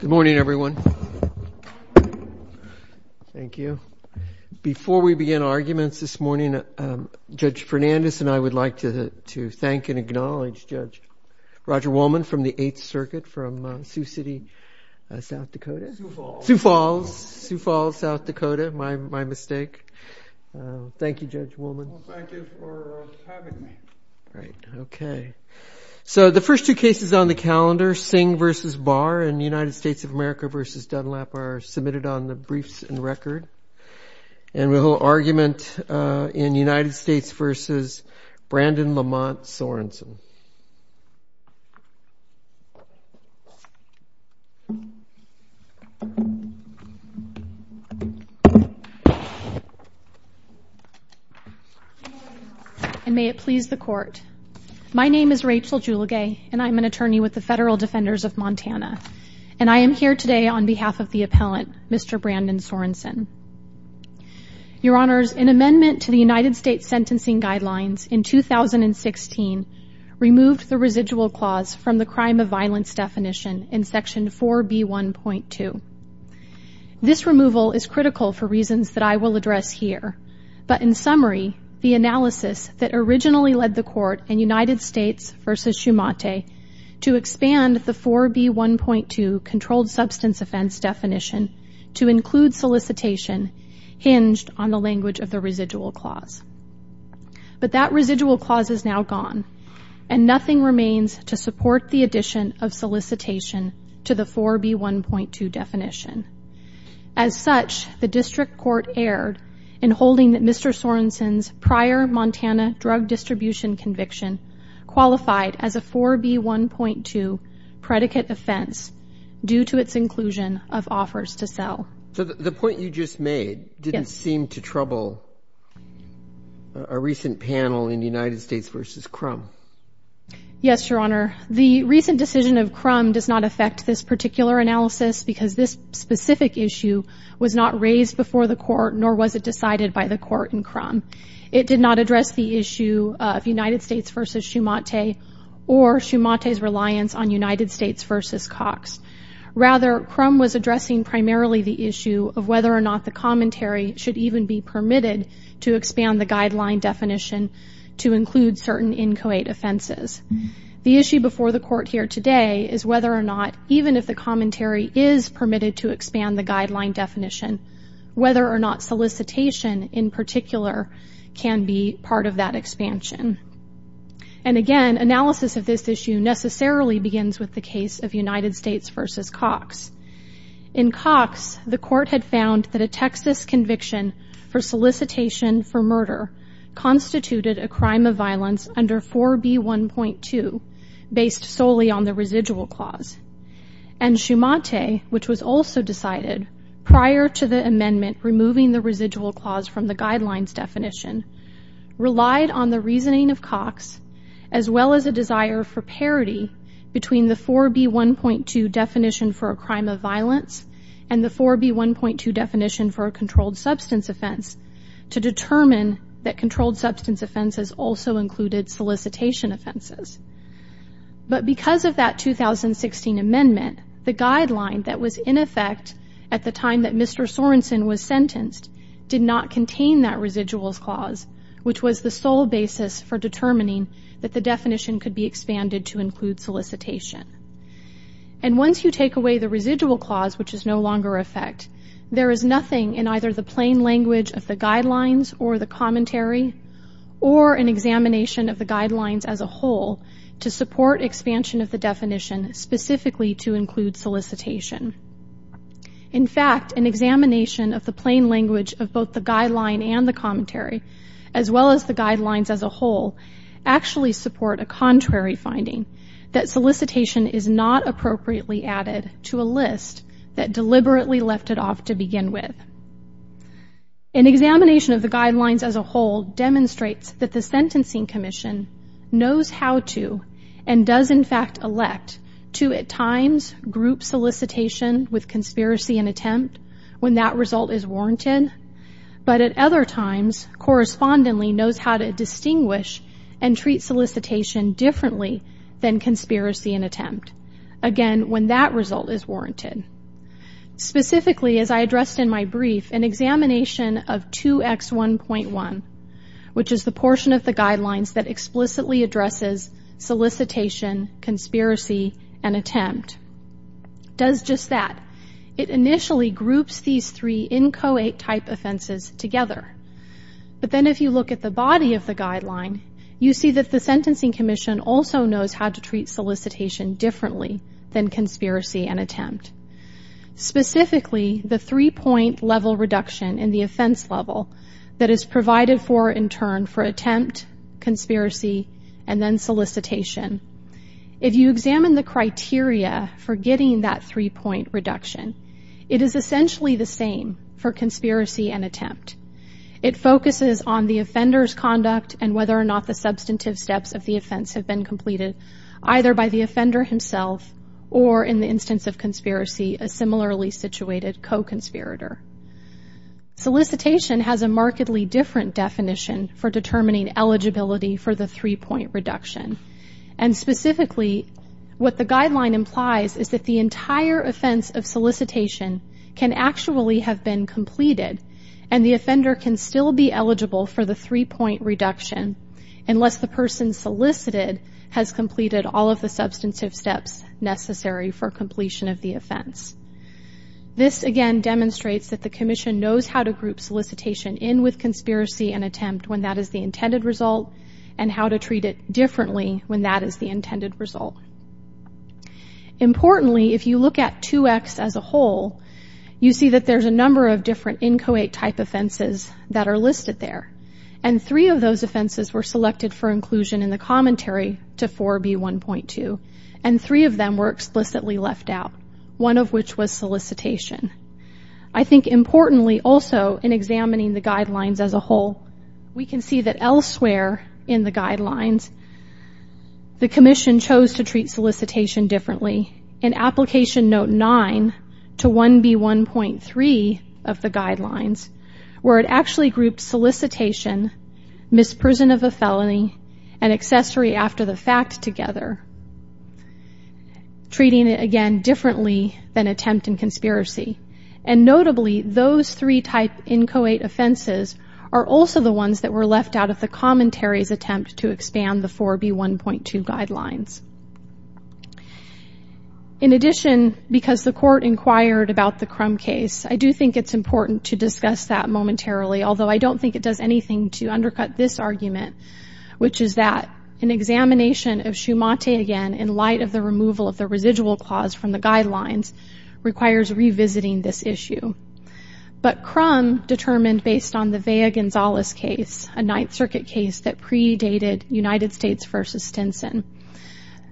Good morning, everyone. Thank you. Before we begin arguments this morning, Judge Fernandes and I would like to thank and acknowledge Judge Roger Woolman from the Eighth Circuit from Sioux City, South Dakota. Sioux Falls. Sioux Falls, South Dakota, my mistake. Thank you, Judge Woolman. Thank you for having me. Right. Okay. So the first two cases on the calendar, Singh v. Barr and United States of America v. Dunlap are submitted on the And may it please the court. My name is Rachel Julegay, and I'm an attorney with the Federal Defenders of Montana. And I am here today on behalf of the appellant, Mr. Brandon Sorenson. Your Honors, an amendment to the United States Sentencing Guidelines in 2016 removed the residual clause from the crime of violence definition in Section 4B1.2. This removal is critical for reasons that I will address here. But in summary, the analysis that originally led the court in United States v. Schumachter to expand the 4B1.2 controlled substance offense definition to include solicitation hinged on the language of the residual clause. But that residual clause is now gone. And nothing remains to support the addition of solicitation to the 4B1.2 definition. As such, the district court erred in holding that Mr. Sorenson's prior Montana drug distribution conviction qualified as a 4B1.2 predicate offense due to its inclusion of offers to sell. So the point you just made didn't seem to trouble a recent panel in United States v. Crum. Yes, Your Honor. The recent decision of Crum does not affect this particular analysis because this specific issue was not raised before the court nor was it decided by the court in Crum. It did not address the issue of United States v. Schumachter or Schumachter's reliance on United States v. Cox. Rather, Crum was addressing primarily the issue of whether or not the commentary should even be permitted to expand the guideline definition to include certain inchoate offenses. The issue before the court here today is whether or not, even if the commentary is permitted to expand the guideline definition, whether or not solicitation in particular can be part of that expansion. And again, analysis of this issue necessarily begins with the case of United States v. Cox. In Cox, the court had found that a Texas conviction for solicitation for murder constituted a solely on the residual clause. And Schumachter, which was also decided prior to the amendment removing the residual clause from the guidelines definition, relied on the reasoning of Cox as well as a desire for parity between the 4B1.2 definition for a crime of violence and the 4B1.2 definition for a controlled substance offense to determine that controlled substance offenses also included solicitation offenses. But because of that 2016 amendment, the guideline that was in effect at the time that Mr. Sorensen was sentenced did not contain that residuals clause, which was the sole basis for determining that the definition could be expanded to include solicitation. And once you take away the residual clause, which is no longer in effect, there is nothing in either the plain language of the guidelines or the commentary or an examination of the guidelines as a whole to support expansion of the definition specifically to include solicitation. In fact, an examination of the plain language of both the guideline and the commentary as well as the guidelines as a whole actually support a contrary finding that solicitation is not appropriately added to a list that deliberately left it off to begin with. An examination of the guidelines as a whole demonstrates that the Sentencing Commission knows how to, and does in fact elect, to at times group solicitation with conspiracy and attempt when that result is warranted, but at other times correspondingly knows how to distinguish and treat solicitation differently than conspiracy and attempt, again, when that result is warranted. Specifically, as I addressed in my brief, an examination of 2X1.1, which is the portion of the guidelines that explicitly addresses solicitation, conspiracy and attempt, does just that. It initially groups these three inchoate type offenses together, but then if you look at the body of the guideline, you see that the Sentencing Commission does not do the same for conspiracy and attempt. Specifically, the 3-point level reduction in the offense level that is provided for, in turn, for attempt, conspiracy, and then solicitation. If you examine the criteria for getting that 3-point reduction, it is essentially the same for conspiracy and attempt. It focuses on the offender's conduct and whether or not the substantive steps of the offense have been completed either by the offender himself or, in the instance of conspiracy, a similarly situated co-conspirator. Solicitation has a markedly different definition for determining eligibility for the 3-point reduction. Specifically, what the guideline implies is that the entire offense of solicitation can actually have been completed and the offender can still be eligible for the 3-point reduction unless the person solicited has completed all of the substantive steps necessary for completion of the offense. This, again, demonstrates that the Commission knows how to group solicitation in with conspiracy and attempt when that is the intended result and how to treat it differently when that is the intended result. Importantly, if you look at 2X as a whole, you see that there's a number of different inchoate type offenses that are listed there, and three of those offenses were selected for inclusion in the commentary to 4B.1.2, and three of them were explicitly left out, one of which was solicitation. I think importantly also in examining the guidelines as a whole, we can see that elsewhere in the guidelines, the Commission chose to treat solicitation differently. In Application Note 9 to 1B.1.3 of the guidelines, where it actually grouped solicitation, misprison of a felony, and accessory after the fact together, treating it, again, differently than attempt and conspiracy. Notably, those three type inchoate offenses are also the ones that were left out of the commentary's attempt to expand the 4B.1.2 guidelines. In addition, because the Court inquired about the Crum case, I do think it's important to discuss that momentarily, although I don't think it does anything to undercut this argument, which is that an examination of Schumante again, in light of the removal of the residual clause from the guidelines, requires revisiting this issue. But Crum determined, based on the Vea-Gonzalez case, a Ninth Circuit case that predated United States v. Stinson,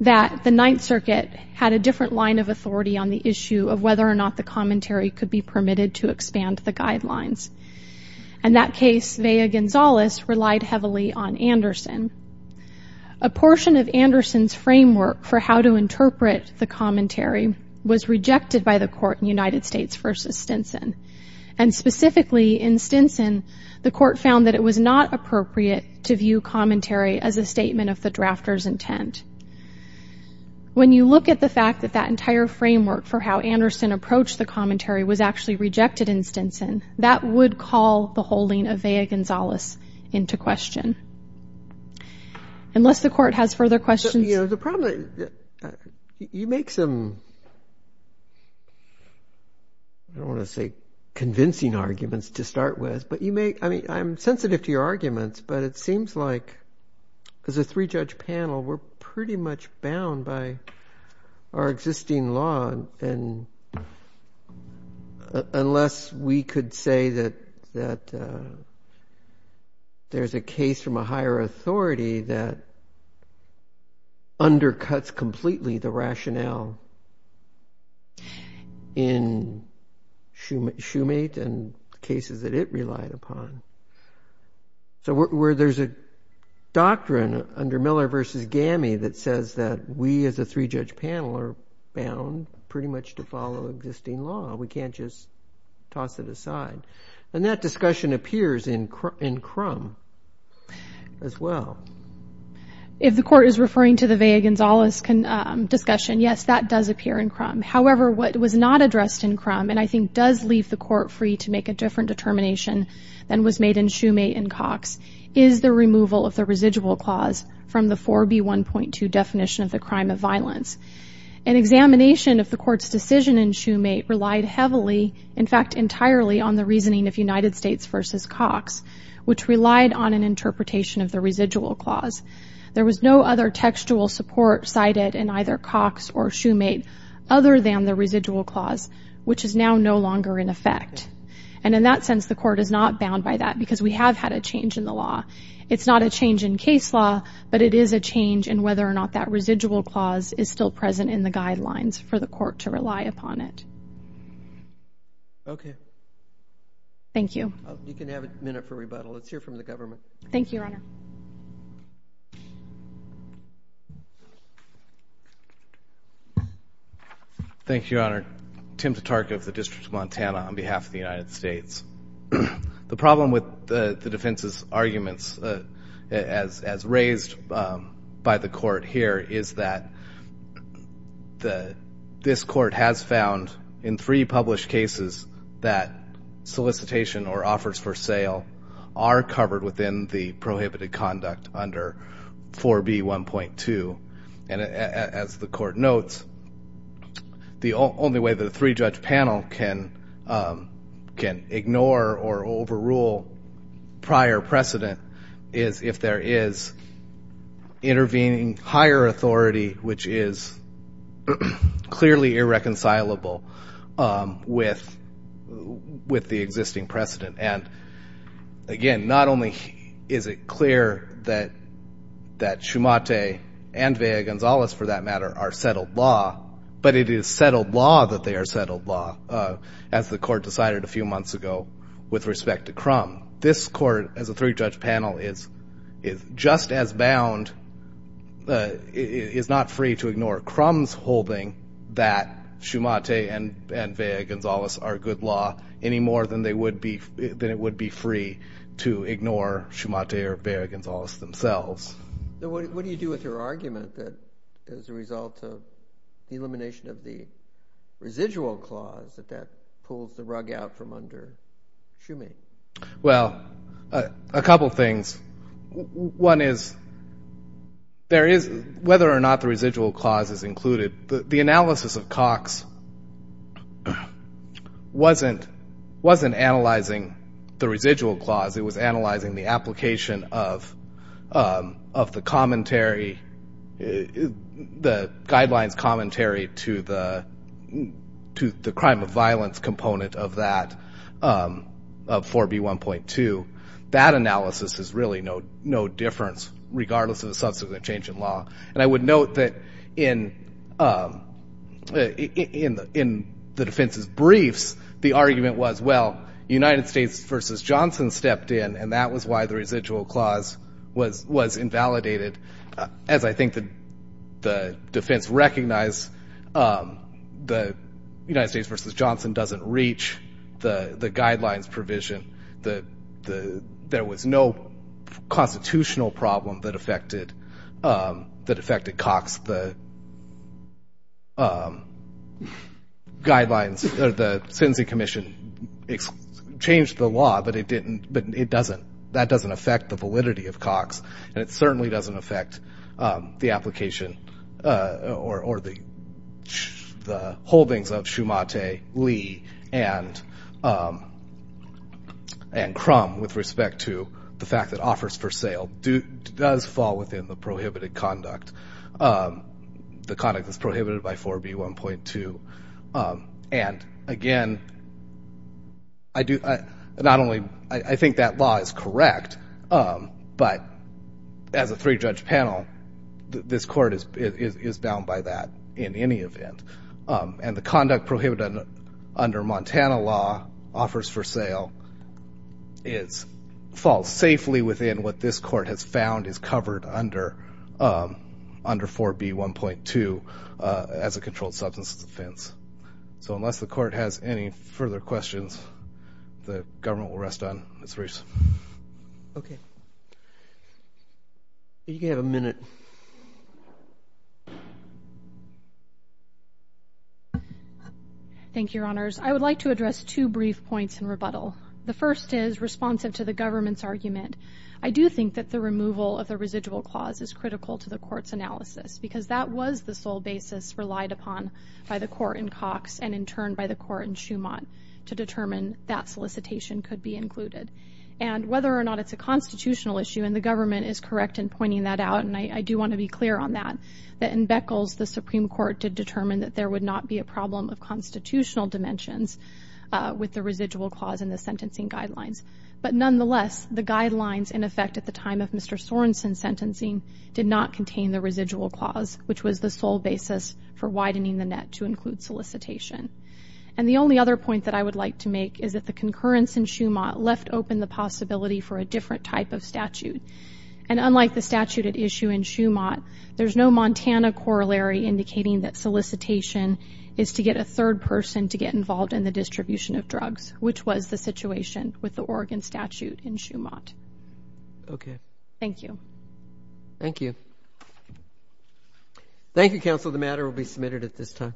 that the Ninth Circuit had a different line of commentary could be permitted to expand the guidelines. In that case, Vea-Gonzalez relied heavily on Anderson. A portion of Anderson's framework for how to interpret the commentary was rejected by the Court in United States v. Stinson. And specifically, in Stinson, the Court found that it was not appropriate to view commentary as a statement of the drafter's intent. When you look at the fact that that entire framework for how Anderson approached the commentary was actually rejected in Stinson, that would call the holding of Vea-Gonzalez into question. Unless the Court has further questions. You know, the problem, you make some, I don't want to say convincing arguments to start with, but you make, I mean, I'm sensitive to your arguments, but it seems like as a pre-judge panel, we're pretty much bound by our existing law. And unless we could say that there's a case from a higher authority that undercuts completely the rationale in Shoemate and cases that it relied upon. So where there's a doctrine underpinning the Miller v. Gammy that says that we as a three-judge panel are bound pretty much to follow existing law. We can't just toss it aside. And that discussion appears in Crum as well. If the Court is referring to the Vea-Gonzalez discussion, yes, that does appear in Crum. However, what was not addressed in Crum, and I think does leave the Court free to make a different determination than was made in Shoemate and Cox, is the removal of the residual clause from the 4B1.2 definition of the crime of violence. An examination of the Court's decision in Shoemate relied heavily, in fact entirely, on the reasoning of United States v. Cox, which relied on an interpretation of the residual clause. There was no other textual support cited in either Cox or Shoemate other than the residual clause, which is now no longer in effect. And in that sense, the Court is not bound by that because we have had a change in the law. It's not a change in case law, but it is a change in whether or not that residual clause is still present in the guidelines for the Court to rely upon it. Okay. Thank you. You can have a minute for rebuttal. Let's hear from the government. Thank you, Your Honor. Thank you, Your Honor. Tim Tatarka of the District of Montana on behalf of the United States. The problem with the defense's arguments as raised by the Court here is that this Court has found in three published cases that solicitation or offers for sale are covered within the prohibited conduct under 4B1.2. And as the Court notes, the only way that a three-judge panel can ignore or overrule prior precedent is if there is intervening higher authority, which is clearly irreconcilable with the existing precedent. And again, not only is it clear that Shoemate and Valle-Gonzalez, for that matter, are settled law, but it is settled law that they are settled law, as the Court decided a few months ago with respect to Crum. This Court, as a three-judge panel, is just as bound, is not free to ignore Crum's holding that Shoemate and Valle-Gonzalez are good law any more than it would be free to ignore Shoemate or Valle-Gonzalez themselves. What do you do with your argument that, as a result of the elimination of the residual clause, that that pulls the rug out from under Shoemate? Well, a couple things. One is, whether or not the residual clause is included, the analysis of Cox wasn't analyzing the residual clause. It was analyzing the application of the commentary, the guidelines commentary, to the crime of violence component of 4B1.2. That analysis is really no difference, regardless of the subsequent change in law. And I would note that in the defense's briefs, the argument was, well, United States v. Johnson stepped in, and that was why the residual clause was invalidated, as I think the defense recognized the United States v. Johnson doesn't reach the guidelines provision. There was no constitutional problem that affected Cox. The guidelines, the sentencing commission changed the law, but it doesn't. That doesn't affect the validity of Cox, and it certainly doesn't affect the application or the holdings of Shoemate, Lee, and Crum with respect to the fact that offers for sale does fall within the prohibited conduct. The conduct is prohibited by 4B1.2. And again, I think that law is correct, but as a three-judge panel, this court is bound by that in any event. And the conduct prohibited under Montana law, offers for sale, falls safely within what this court has found is covered under 4B1.2 as a controlled substance offense. So unless the court has any further questions, the government will rest on its briefs. OK. You have a minute. Thank you, Your Honors. I would like to address two brief points in rebuttal. The first is responsive to the government's argument. I do think that the removal of the residual clause is critical to the court's analysis, because that was the sole basis relied upon by the court in Cox and in turn by the court in Shoemate to determine that solicitation could be included. And whether or not it's a constitutional issue, and the government is correct in pointing that out, and I do want to be clear on that, that in Beckles, the Supreme Court did determine that there would not be a problem of constitutional dimensions with the residual clause in the sentencing guidelines. But nonetheless, the guidelines in effect at the time of Mr. Sorenson's sentencing did not contain the residual clause, which was the sole basis for widening the net to include solicitation. And the only other point that I would like to make is that the concurrence in Shoemate left open the possibility for a different type of statute. And unlike the statute at issue in Shoemate, there's no Montana corollary indicating that solicitation is to get a third person to get involved in the distribution of drugs, which was the situation with the Oregon statute in Shoemate. Okay. Thank you. Thank you. Thank you, counsel. The matter will be submitted at this time.